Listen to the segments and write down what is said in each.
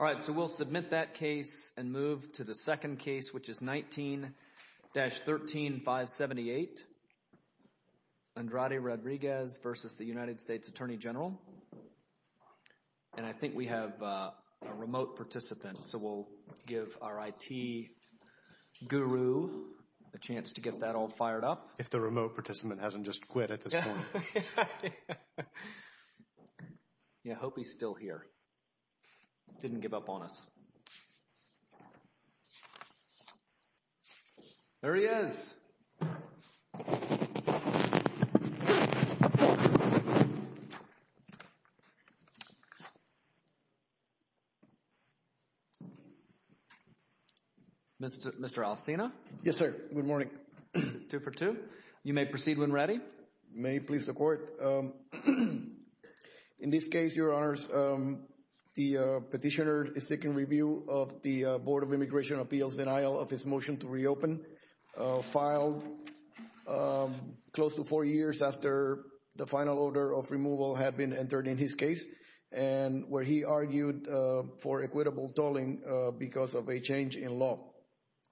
All right, so we'll submit that case and move to the second case, which is 19-13578, Andrade-Rodriguez v. U.S. Attorney General. And I think we have a remote participant, so we'll give our IT guru a chance to get that all fired up. If the remote participant hasn't just quit at this point. I hope he's still here, didn't give up on us. There he is. Mr. Alcina. Yes, sir. Good morning. Two for two. You may proceed when ready. May it please the Court. In this case, Your Honors, the petitioner is seeking review of the Board of Immigration Appeals denial of his motion to reopen, filed close to four years after the final order of removal had been entered in his case, and where he argued for equitable tolling because of a change in law.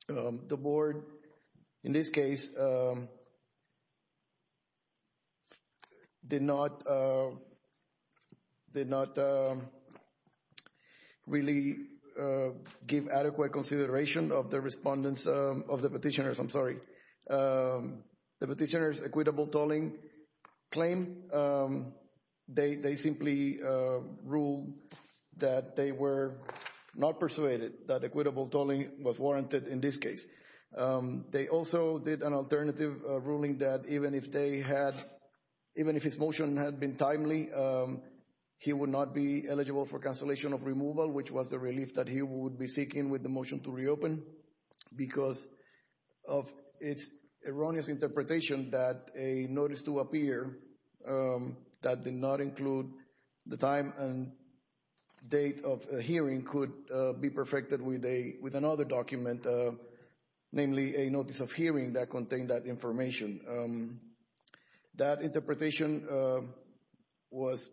The Board, in this case, did not really give adequate consideration of the respondents of the petitioners. I'm sorry. The petitioner's equitable tolling claim, they simply ruled that they were not persuaded that equitable tolling was warranted in this case. They also did an alternative ruling that even if they had, even if his motion had been timely, he would not be eligible for cancellation of removal, which was the relief that he would be seeking with the motion to reopen because of its erroneous interpretation that a notice to appear that did not include the time and date of a hearing could be perfected with another document, namely a notice of hearing that contained that information. That interpretation was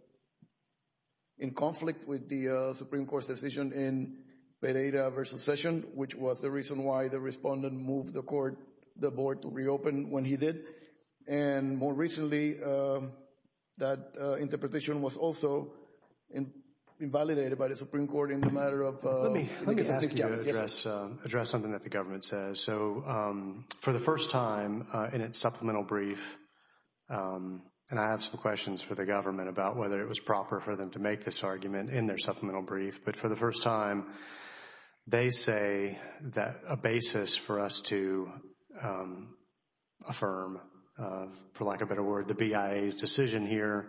in conflict with the Supreme Court's decision in Pereira v. Session, which was the reason why the respondent moved the Court, the Board, to reopen when he did. And more recently, that interpretation was also invalidated by the Supreme Court in the matter of— Let me ask you to address something that the government says. So for the first time in its supplemental brief, and I have some questions for the government about whether it was proper for them to make this argument in their supplemental brief, but for the first time, they say that a basis for us to affirm, for lack of a better word, the BIA's decision here,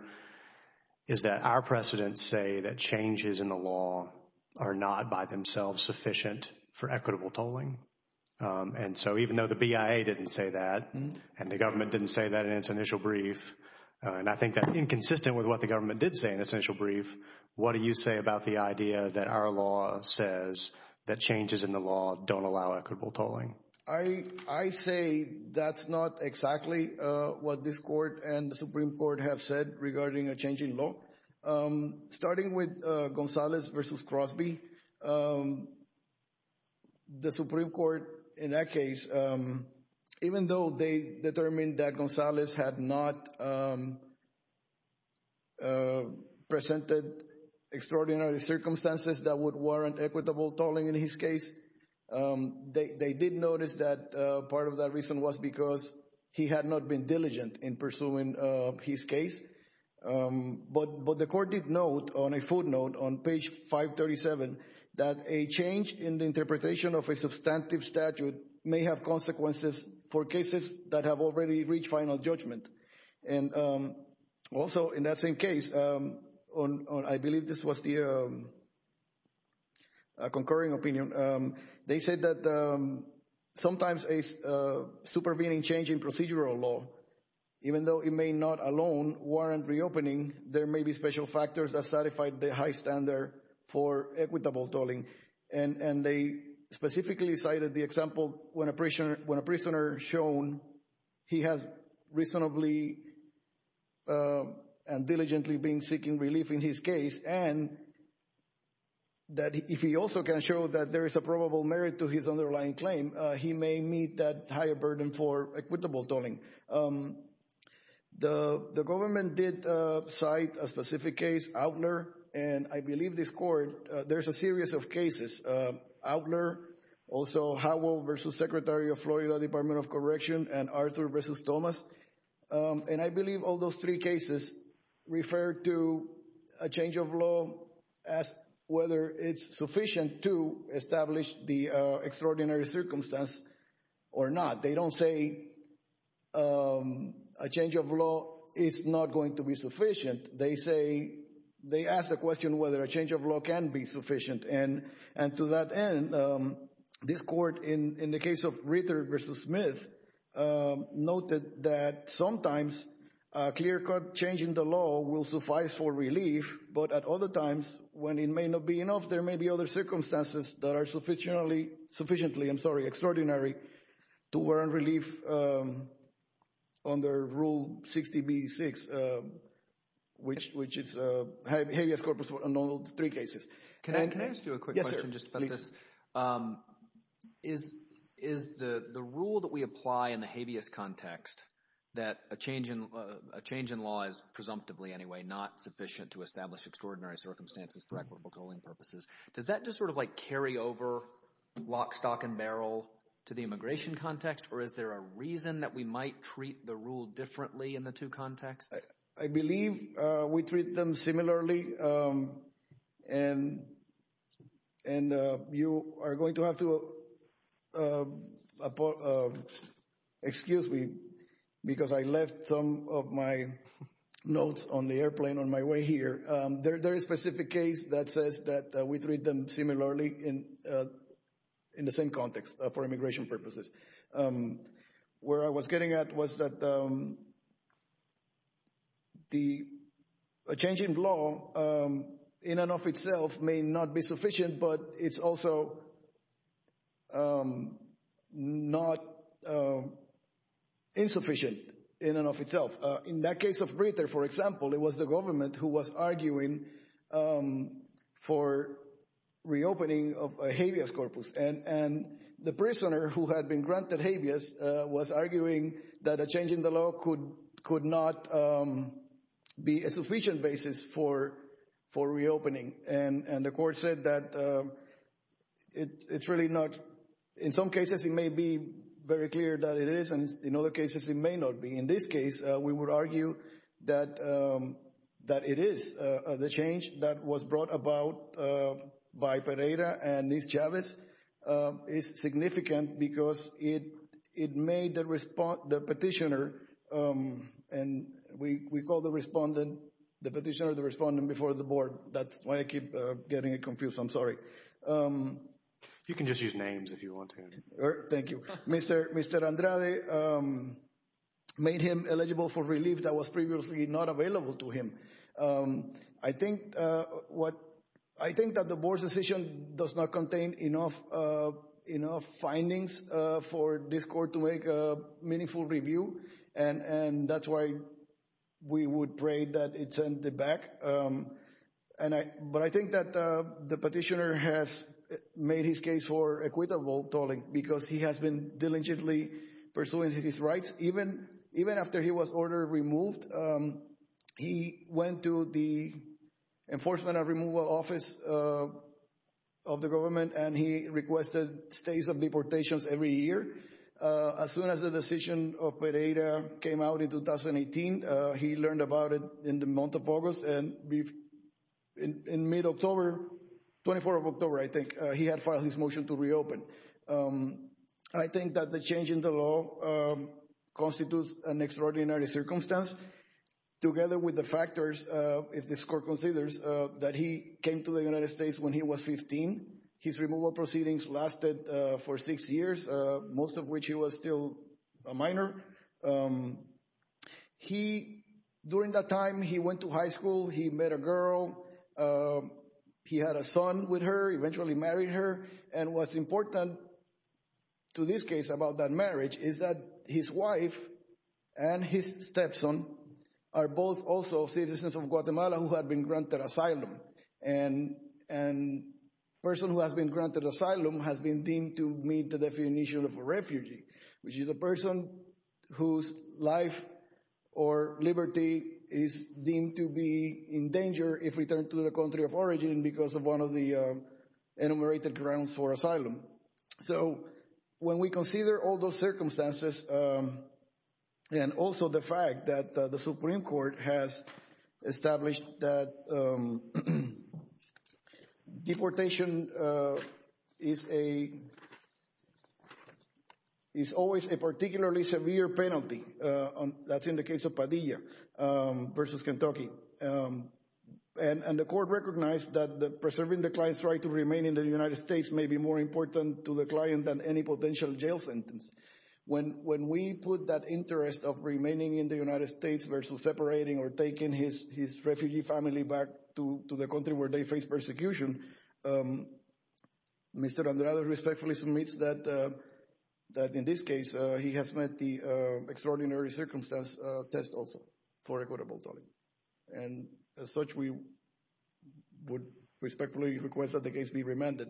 is that our precedents say that changes in the law are not by themselves sufficient for equitable tolling. And so even though the BIA didn't say that, and the government didn't say that in its initial brief, and I think that's inconsistent with what the government did say in its initial brief, what do you say about the idea that our law says that changes in the law don't allow equitable tolling? I say that's not exactly what this Court and the Supreme Court have said regarding a change in law. Starting with Gonzalez v. Crosby, the Supreme Court, in that case, even though they determined that Gonzalez had not presented extraordinary circumstances that would warrant equitable tolling in his case, they did notice that part of that reason was because he had not been diligent in pursuing his case. But the Court did note on a footnote on page 537 that a change in the interpretation of a substantive statute may have consequences for cases that have already reached final judgment. And also in that same case, I believe this was the concurring opinion, they said that sometimes a supervening change in procedural law, even though it may not alone warrant reopening, there may be special factors that satisfy the high standard for equitable tolling. And they specifically cited the example when a prisoner shown he has reasonably and diligently been seeking relief in his case and that if he also can show that there is a probable merit to his underlying claim, he may meet that higher burden for equitable tolling. The government did cite a specific case, Outler, and I believe this Court, there's a series of cases, Outler, also Howell v. Secretary of Florida Department of Corrections, and Arthur v. Thomas. And I believe all those three cases refer to a change of law as whether it's sufficient to establish the extraordinary circumstance or not. They don't say a change of law is not going to be sufficient. They say, they ask the question whether a change of law can be sufficient. And to that end, this Court, in the case of Ritter v. Smith, noted that sometimes a clear-cut change in the law will suffice for relief, but at other times, when it may not be enough, there may be other circumstances that are sufficiently, I'm sorry, extraordinary, to warrant relief under Rule 60B-6, which is habeas corpus for all three cases. Can I ask you a quick question just about this? Yes, sir, please. Is the rule that we apply in the habeas context, that a change in law is, presumptively anyway, not sufficient to establish extraordinary circumstances for equitable tolling purposes, does that just sort of like carry over lock, stock, and barrel to the immigration context, or is there a reason that we might treat the rule differently in the two contexts? I believe we treat them similarly, and you are going to have to excuse me, because I left some of my notes on the airplane on my way here. There is a specific case that says that we treat them similarly in the same context for immigration purposes. Where I was getting at was that a change in law in and of itself may not be sufficient, but it's also not insufficient in and of itself. In that case of Brita, for example, it was the government who was arguing for reopening of a habeas corpus, and the prisoner who had been granted habeas was arguing that a change in the law could not be a sufficient basis for reopening, and the court said that it's really not. In some cases, it may be very clear that it is, and in other cases, it may not be. In this case, we would argue that it is. The change that was brought about by Pereira and Ms. Chavez is significant because it made the petitioner, and we call the petitioner the respondent before the board. That's why I keep getting it confused. I'm sorry. You can just use names if you want to. Thank you. Mr. Andrade made him eligible for relief that was previously not available to him. I think that the board's decision does not contain enough findings for this court to make a meaningful review, and that's why we would pray that it's sent it back. But I think that the petitioner has made his case for equitable tolling because he has been diligently pursuing his rights. Even after he was order removed, he went to the Enforcement and Removal Office of the government, and he requested stays and deportations every year. As soon as the decision of Pereira came out in 2018, he learned about it in the month of August, and in mid-October, 24th of October, I think, he had filed his motion to reopen. I think that the change in the law constitutes an extraordinary circumstance. Together with the factors, if this court considers that he came to the United States when he was 15, his removal proceedings lasted for six years, most of which he was still a minor. During that time, he went to high school, he met a girl, he had a son with her, eventually married her. And what's important to this case about that marriage is that his wife and his stepson are both also citizens of Guatemala who have been granted asylum, and a person who has been granted asylum has been deemed to meet the definition of a refugee, which is a person whose life or liberty is deemed to be in danger if returned to the country of origin because of one of the enumerated grounds for asylum. So when we consider all those circumstances, and also the fact that the Supreme Court has established that deportation is always a particularly severe penalty, that's in the case of Padilla versus Kentucky, and the court recognized that preserving the client's right to remain in the United States may be more important to the client than any potential jail sentence. When we put that interest of remaining in the United States versus separating or taking his refugee family back to the country where they face persecution, Mr. Andrade respectfully submits that, in this case, he has met the extraordinary circumstance test also for equitable dwelling. And as such, we would respectfully request that the case be remanded.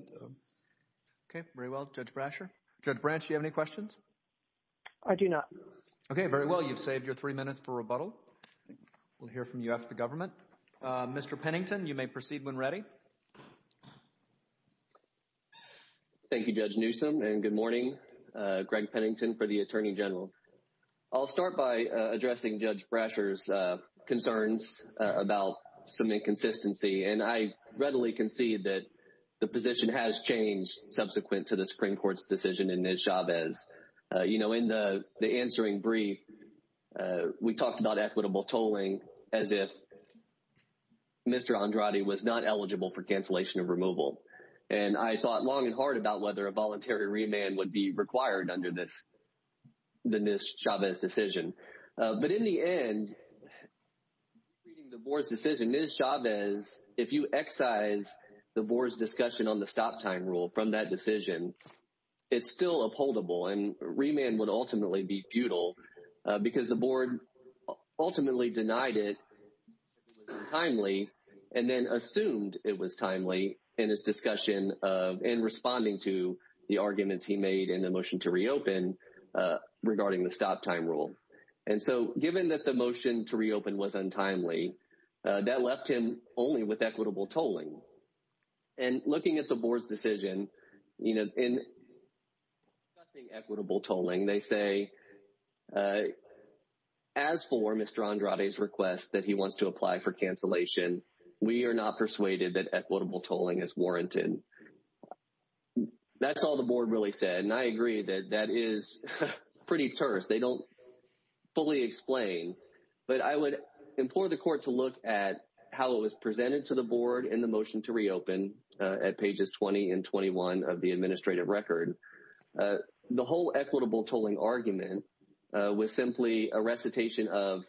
Okay, very well. Judge Brasher. Judge Branch, do you have any questions? I do not. Okay, very well. You've saved your three minutes for rebuttal. We'll hear from you after the government. Mr. Pennington, you may proceed when ready. Thank you, Judge Newsom, and good morning. Greg Pennington for the Attorney General. I'll start by addressing Judge Brasher's concerns about some inconsistency, and I readily concede that the position has changed subsequent to the Supreme Court's decision in Nez Chavez. You know, in the answering brief, we talked about equitable tolling as if Mr. Andrade was not eligible for cancellation of removal. And I thought long and hard about whether a voluntary remand would be required under this Nez Chavez decision. But in the end, reading the board's decision, Nez Chavez, if you excise the board's discussion on the stop time rule from that decision, it's still upholdable and remand would ultimately be futile because the board ultimately denied it timely and then assumed it was timely in his discussion and responding to the arguments he made in the motion to reopen regarding the stop time rule. And so given that the motion to reopen was untimely, that left him only with equitable tolling. And looking at the board's decision, you know, in equitable tolling, they say, as for Mr. Andrade's request that he wants to apply for cancellation, we are not persuaded that equitable tolling is warranted. That's all the board really said, and I agree that that is pretty terse. They don't fully explain, but I would implore the court to look at how it was presented to the board in the motion to reopen at pages 20 and 21 of the administrative record. The whole equitable tolling argument was simply a recitation of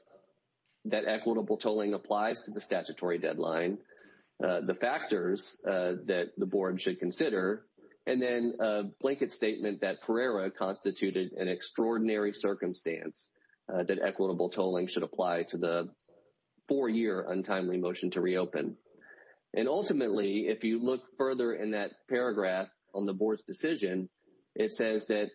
that equitable tolling applies to the statutory deadline, the factors that the board should consider, and then a blanket statement that Pereira constituted an extraordinary circumstance that equitable tolling should apply to the four year untimely motion to reopen. And ultimately, if you look further in that paragraph on the board's decision, it says that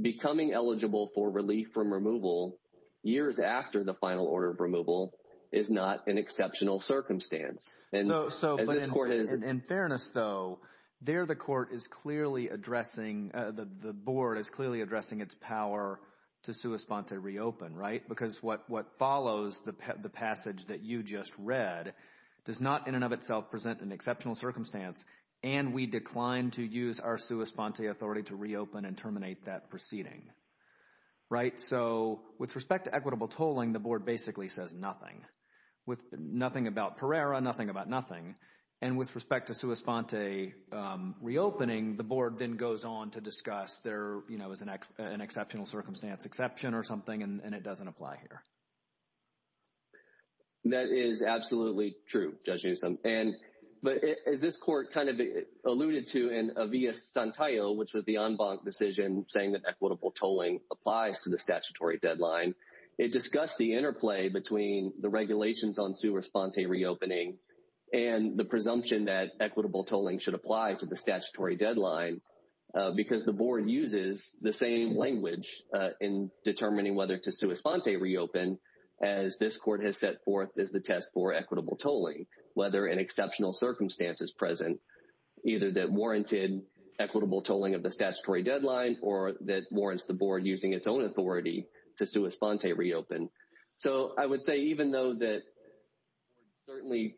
becoming eligible for relief from removal years after the final order of removal is not an exceptional circumstance. So in fairness, though, there the court is clearly addressing, the board is clearly addressing its power to sua sponte reopen, right? Because what follows the passage that you just read does not in and of itself present an exceptional circumstance. And we declined to use our sua sponte authority to reopen and terminate that proceeding. Right. So with respect to equitable tolling, the board basically says nothing with nothing about Pereira, nothing about nothing. And with respect to sua sponte reopening, the board then goes on to discuss there is an exceptional circumstance exception or something. And it doesn't apply here. That is absolutely true, Judge Newsom. And but as this court kind of alluded to in a via Santiago, which was the en banc decision saying that equitable tolling applies to the statutory deadline, it discussed the interplay between the regulations on sua sponte reopening and the presumption that equitable tolling should apply to the statutory deadline, because the board uses the same language in determining whether to sua sponte reopen as this court has set forth as the test for equitable tolling, whether an exceptional circumstance is present, either that warranted equitable tolling of the statutory deadline or that warrants the board using its own authority to sua sponte reopen. So I would say even though that certainly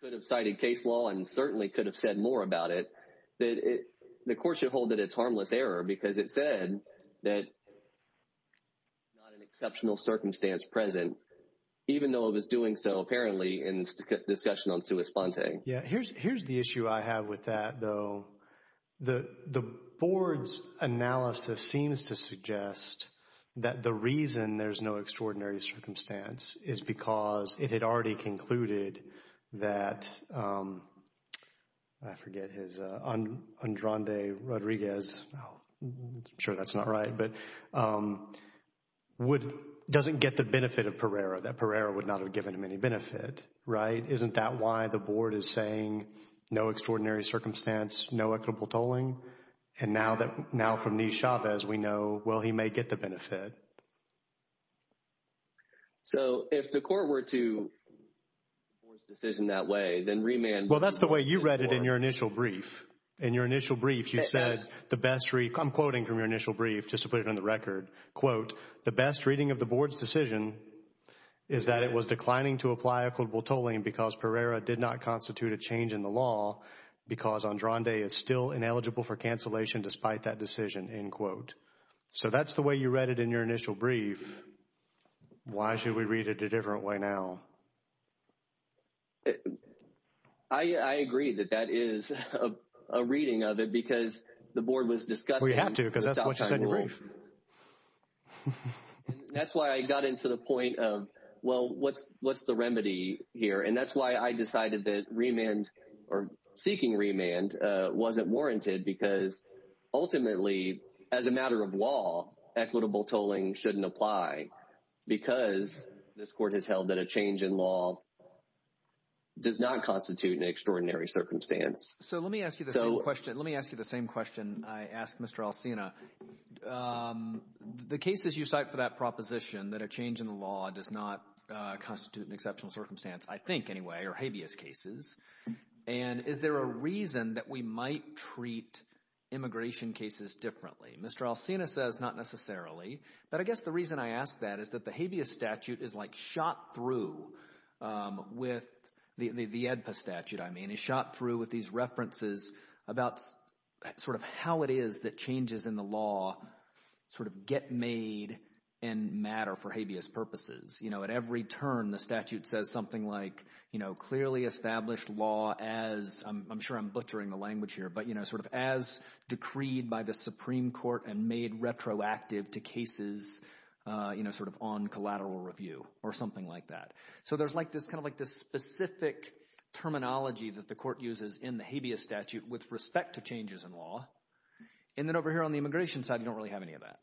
could have cited case law and certainly could have said more about it, that the court should hold that it's harmless error because it said that not an exceptional circumstance present, even though it was doing so apparently in discussion on sua sponte. Yeah, here's the issue I have with that, though. The board's analysis seems to suggest that the reason there's no extraordinary circumstance is because it had already concluded that, I forget, Andrande Rodriguez, I'm sure that's not right, but doesn't get the benefit of Pereira, that Pereira would not have given him any benefit. Right. Isn't that why the board is saying no extraordinary circumstance, no equitable tolling. And now that now from Nisha, as we know, well, he may get the benefit. So if the court were to decision that way, then remand. Well, that's the way you read it in your initial brief. In your initial brief, you said the best. I'm quoting from your initial brief just to put it on the record. Quote, the best reading of the board's decision is that it was declining to apply equitable tolling because Pereira did not constitute a change in the law because Andrande is still ineligible for cancellation despite that decision. End quote. So that's the way you read it in your initial brief. Why should we read it a different way now? I agree that that is a reading of it because the board was discussing. We have to because that's what you said in your brief. And that's why I got into the point of, well, what's what's the remedy here? And that's why I decided that remand or seeking remand wasn't warranted, because ultimately, as a matter of law, equitable tolling shouldn't apply because this court has held that a change in law does not constitute an extraordinary circumstance. So let me ask you the same question. Let me ask you the same question. I asked Mr. Alcina. The cases you cite for that proposition that a change in the law does not constitute an exceptional circumstance, I think anyway, are habeas cases. And is there a reason that we might treat immigration cases differently? Mr. Alcina says not necessarily. But I guess the reason I ask that is that the habeas statute is like shot through with the AEDPA statute, I mean, is shot through with these references about sort of how it is that changes in the law sort of get made and matter for habeas purposes. At every turn, the statute says something like clearly established law as, I'm sure I'm butchering the language here, but sort of as decreed by the Supreme Court and made retroactive to cases sort of on collateral review or something like that. So there's kind of like this specific terminology that the court uses in the habeas statute with respect to changes in law. And then over here on the immigration side, you don't really have any of that.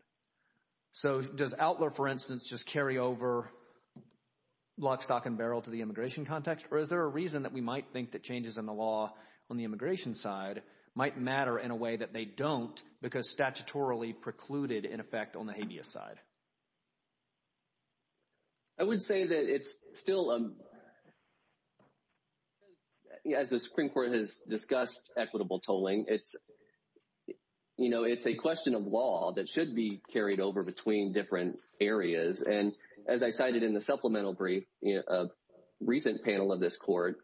So does Outlaw, for instance, just carry over lock, stock and barrel to the immigration context? Or is there a reason that we might think that changes in the law on the immigration side might matter in a way that they don't because statutorily precluded in effect on the habeas side? I would say that it's still, as the Supreme Court has discussed equitable tolling, it's, you know, it's a question of law that should be carried over between different areas. And as I cited in the supplemental brief, a recent panel of this court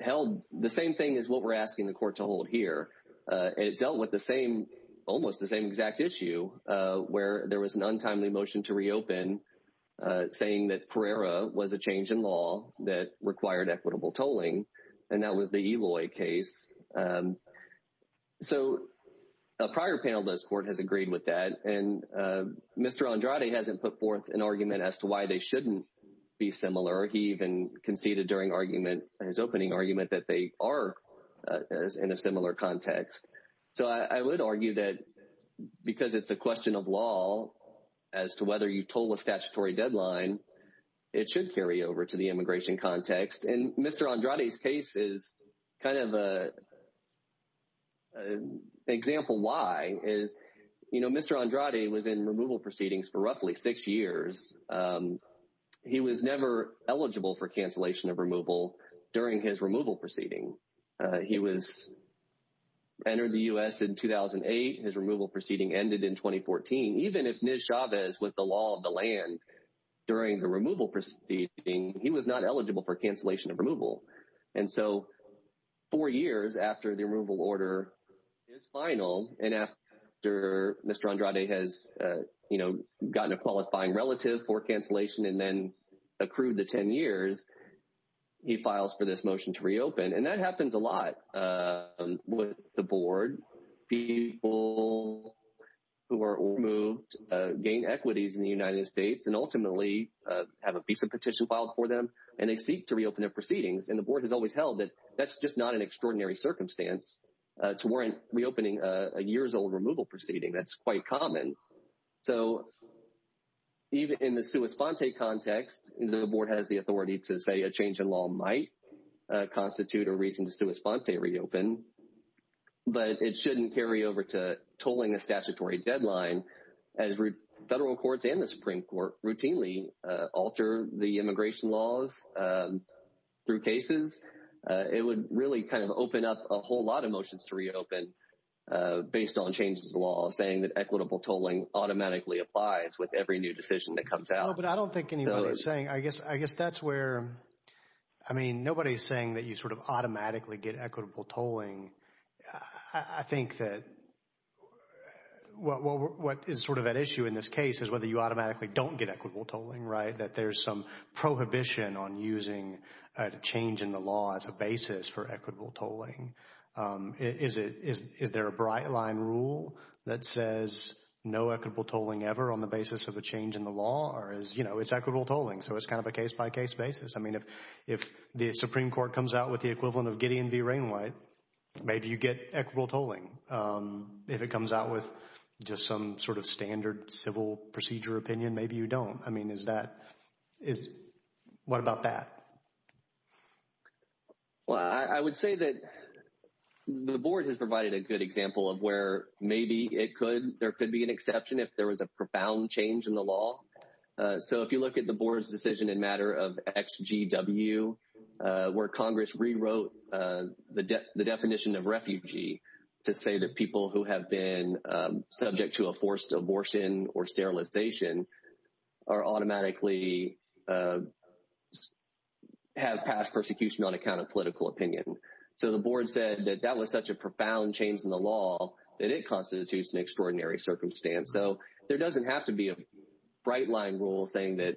held the same thing as what we're asking the court to hold here. It dealt with the same almost the same exact issue where there was an untimely motion to reopen, saying that Pereira was a change in law that required equitable tolling. And that was the Eloy case. So a prior panel of this court has agreed with that. And Mr. Andrade hasn't put forth an argument as to why they shouldn't be similar. He even conceded during argument in his opening argument that they are in a similar context. So I would argue that because it's a question of law as to whether you toll a statutory deadline, it should carry over to the immigration context. And Mr. Andrade's case is kind of an example why. You know, Mr. Andrade was in removal proceedings for roughly six years. He was never eligible for cancellation of removal during his removal proceeding. He was entered the U.S. in 2008. His removal proceeding ended in 2014. Even if Ms. Chavez, with the law of the land, during the removal proceeding, he was not eligible for cancellation of removal. And so four years after the removal order is final and after Mr. Andrade has, you know, gotten a qualifying relative for cancellation and then accrued the 10 years, he files for this motion to reopen. And that happens a lot with the board. People who are removed gain equities in the United States and ultimately have a piece of petition filed for them, and they seek to reopen their proceedings. And the board has always held that that's just not an extraordinary circumstance to warrant reopening a years-old removal proceeding. That's quite common. So even in the sua sponte context, the board has the authority to say a change in law might constitute a reason to sua sponte reopen. But it shouldn't carry over to tolling a statutory deadline as federal courts and the Supreme Court routinely alter the immigration laws through cases. It would really kind of open up a whole lot of motions to reopen based on changes to the law, saying that equitable tolling automatically applies with every new decision that comes out. But I don't think anybody is saying, I guess, I guess that's where, I mean, nobody's saying that you sort of automatically get equitable tolling. I think that what is sort of at issue in this case is whether you automatically don't get equitable tolling, right? That there's some prohibition on using a change in the law as a basis for equitable tolling. Is there a bright line rule that says no equitable tolling ever on the basis of a change in the law? Or is, you know, it's equitable tolling. So it's kind of a case-by-case basis. I mean, if the Supreme Court comes out with the equivalent of Gideon v. Rainwhite, maybe you get equitable tolling. If it comes out with just some sort of standard civil procedure opinion, maybe you don't. I mean, is that, is, what about that? Well, I would say that the board has provided a good example of where maybe it could, there could be an exception if there was a profound change in the law. So if you look at the board's decision in matter of XGW, where Congress rewrote the definition of refugee to say that people who have been subject to a forced abortion or sterilization are automatically, have passed persecution on account of political opinion. So the board said that that was such a profound change in the law that it constitutes an extraordinary circumstance. So there doesn't have to be a bright line rule saying that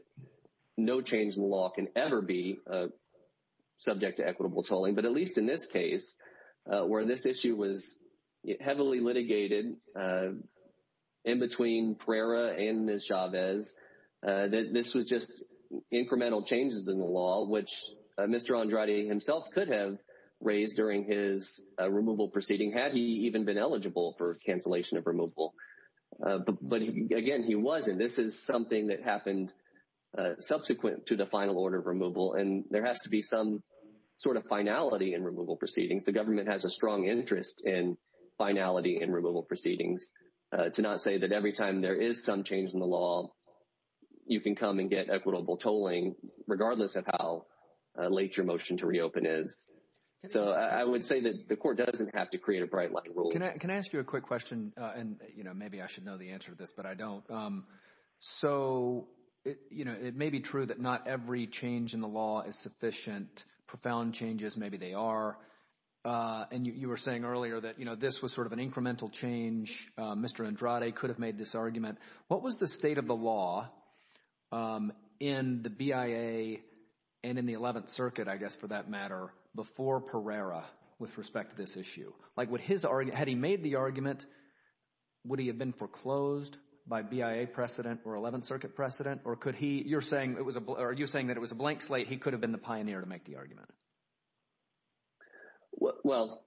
no change in the law can ever be subject to equitable tolling. But at least in this case, where this issue was heavily litigated in between Pereira and Ms. Chavez, this was just incremental changes in the law, which Mr. Andrade himself could have raised during his removal proceeding had he even been eligible for cancellation of removal. But again, he wasn't. This is something that happened subsequent to the final order of removal. And there has to be some sort of finality in removal proceedings. The government has a strong interest in finality in removal proceedings to not say that every time there is some change in the law, you can come and get equitable tolling, regardless of how late your motion to reopen is. So I would say that the court doesn't have to create a bright line rule. Can I ask you a quick question? And, you know, maybe I should know the answer to this, but I don't. So, you know, it may be true that not every change in the law is sufficient. Profound changes, maybe they are. And you were saying earlier that, you know, this was sort of an incremental change. What was the state of the law in the BIA and in the 11th Circuit, I guess, for that matter, before Pereira with respect to this issue? Like, had he made the argument, would he have been foreclosed by BIA precedent or 11th Circuit precedent? Or could he – you're saying that it was a blank slate. He could have been the pioneer to make the argument. Well,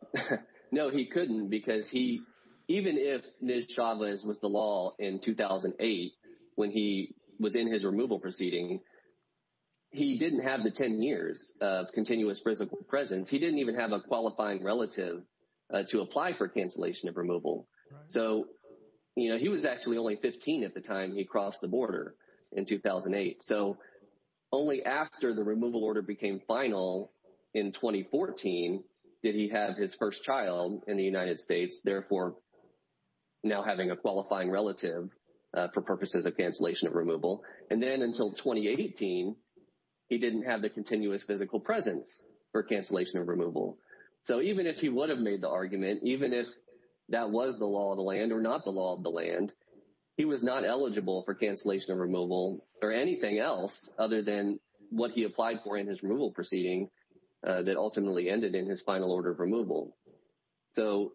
no, he couldn't, because he – even if Ms. Chavez was the law in 2008, when he was in his removal proceeding, he didn't have the 10 years of continuous presence. He didn't even have a qualifying relative to apply for cancellation of removal. So, you know, he was actually only 15 at the time he crossed the border in 2008. So, only after the removal order became final in 2014 did he have his first child in the United States, therefore now having a qualifying relative for purposes of cancellation of removal. And then until 2018, he didn't have the continuous physical presence for cancellation of removal. So, even if he would have made the argument, even if that was the law of the land or not the law of the land, he was not eligible for cancellation of removal or anything else other than what he applied for in his removal proceeding that ultimately ended in his final order of removal. So,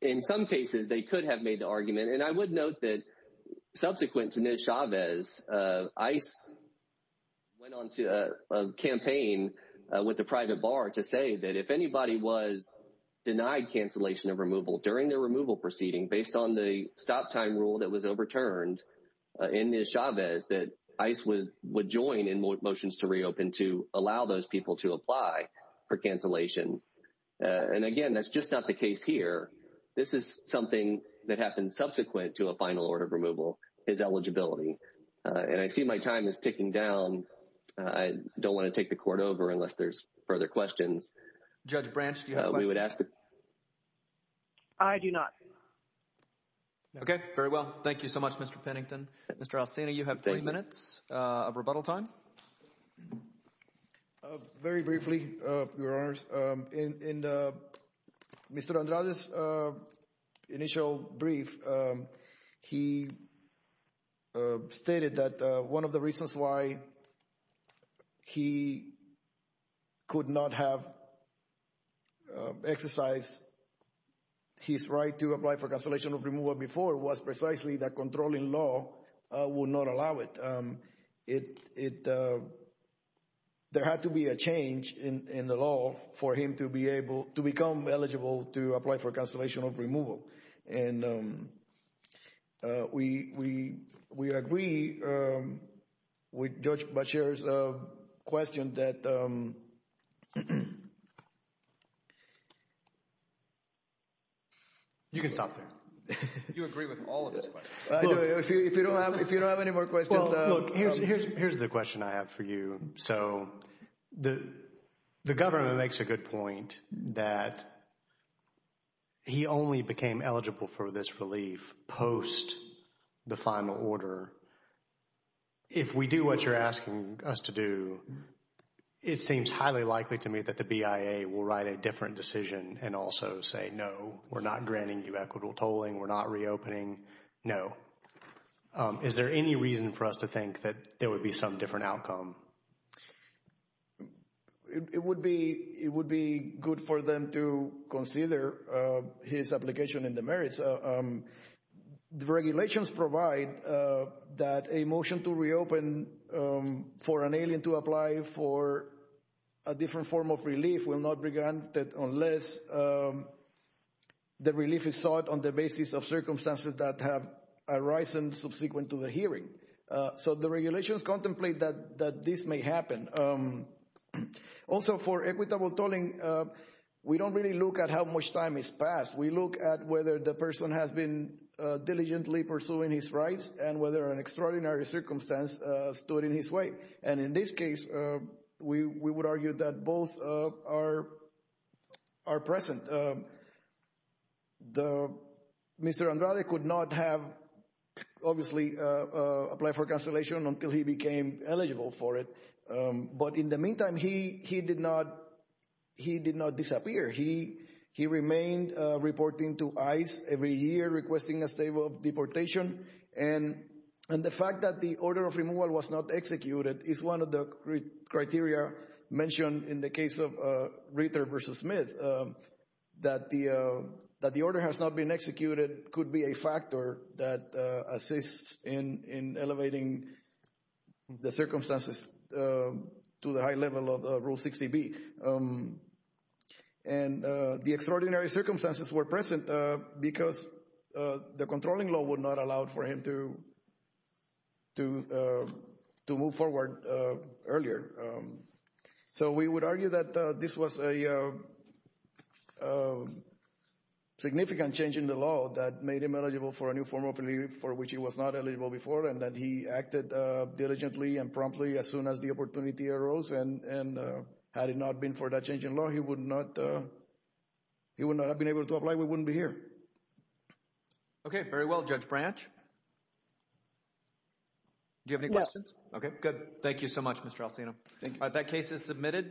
in some cases, they could have made the argument. And I would note that subsequent to Ms. Chavez, ICE went on to campaign with the private bar to say that if anybody was denied cancellation of removal during their removal proceeding based on the stop time rule that was overturned in Ms. Chavez, that ICE would join in motions to reopen to allow those people to apply for cancellation. And again, that's just not the case here. This is something that happened subsequent to a final order of removal is eligibility. And I see my time is ticking down. I don't want to take the court over unless there's further questions. Judge Branch, do you have questions? I do not. Okay, very well. Thank you so much, Mr. Pennington. Mr. Alcina, you have 30 minutes of rebuttal time. Very briefly, Your Honors, in Mr. Andrade's initial brief, he stated that one of the reasons why he could not have exercised his right to apply for cancellation of removal before was precisely that controlling law would not allow it. There had to be a change in the law for him to be able to become eligible to apply for cancellation of removal. And we agree with Judge Boucher's question that... You can stop there. You agree with all of his questions. If you don't have any more questions... Well, look, here's the question I have for you. So the government makes a good point that he only became eligible for this relief post the final order. If we do what you're asking us to do, it seems highly likely to me that the BIA will write a different decision and also say, no, we're not granting you equitable tolling, we're not reopening, no. Is there any reason for us to think that there would be some different outcome? It would be good for them to consider his application in the merits. The regulations provide that a motion to reopen for an alien to apply for a different form of relief will not be granted unless the relief is sought on the basis of circumstances that have arisen subsequent to the hearing. So the regulations contemplate that this may happen. Also, for equitable tolling, we don't really look at how much time has passed. We look at whether the person has been diligently pursuing his rights and whether an extraordinary circumstance stood in his way. And in this case, we would argue that both are present. Mr. Andrade could not have, obviously, applied for cancellation until he became eligible for it. But in the meantime, he did not disappear. He remained reporting to ICE every year requesting a state of deportation. And the fact that the order of removal was not executed is one of the criteria mentioned in the case of Reiter versus Smith, that the order has not been executed could be a factor that assists in elevating the circumstances to the high level of Rule 60B. And the extraordinary circumstances were present because the controlling law would not allow for him to move forward earlier. So we would argue that this was a significant change in the law that made him eligible for a new form of relief for which he was not eligible before, and that he acted diligently and promptly as soon as the opportunity arose. And had it not been for that change in law, he would not have been able to apply. We wouldn't be here. Okay, very well, Judge Branch. Do you have any questions? Okay, good. Thank you so much, Mr. Alsino. That case is submitted.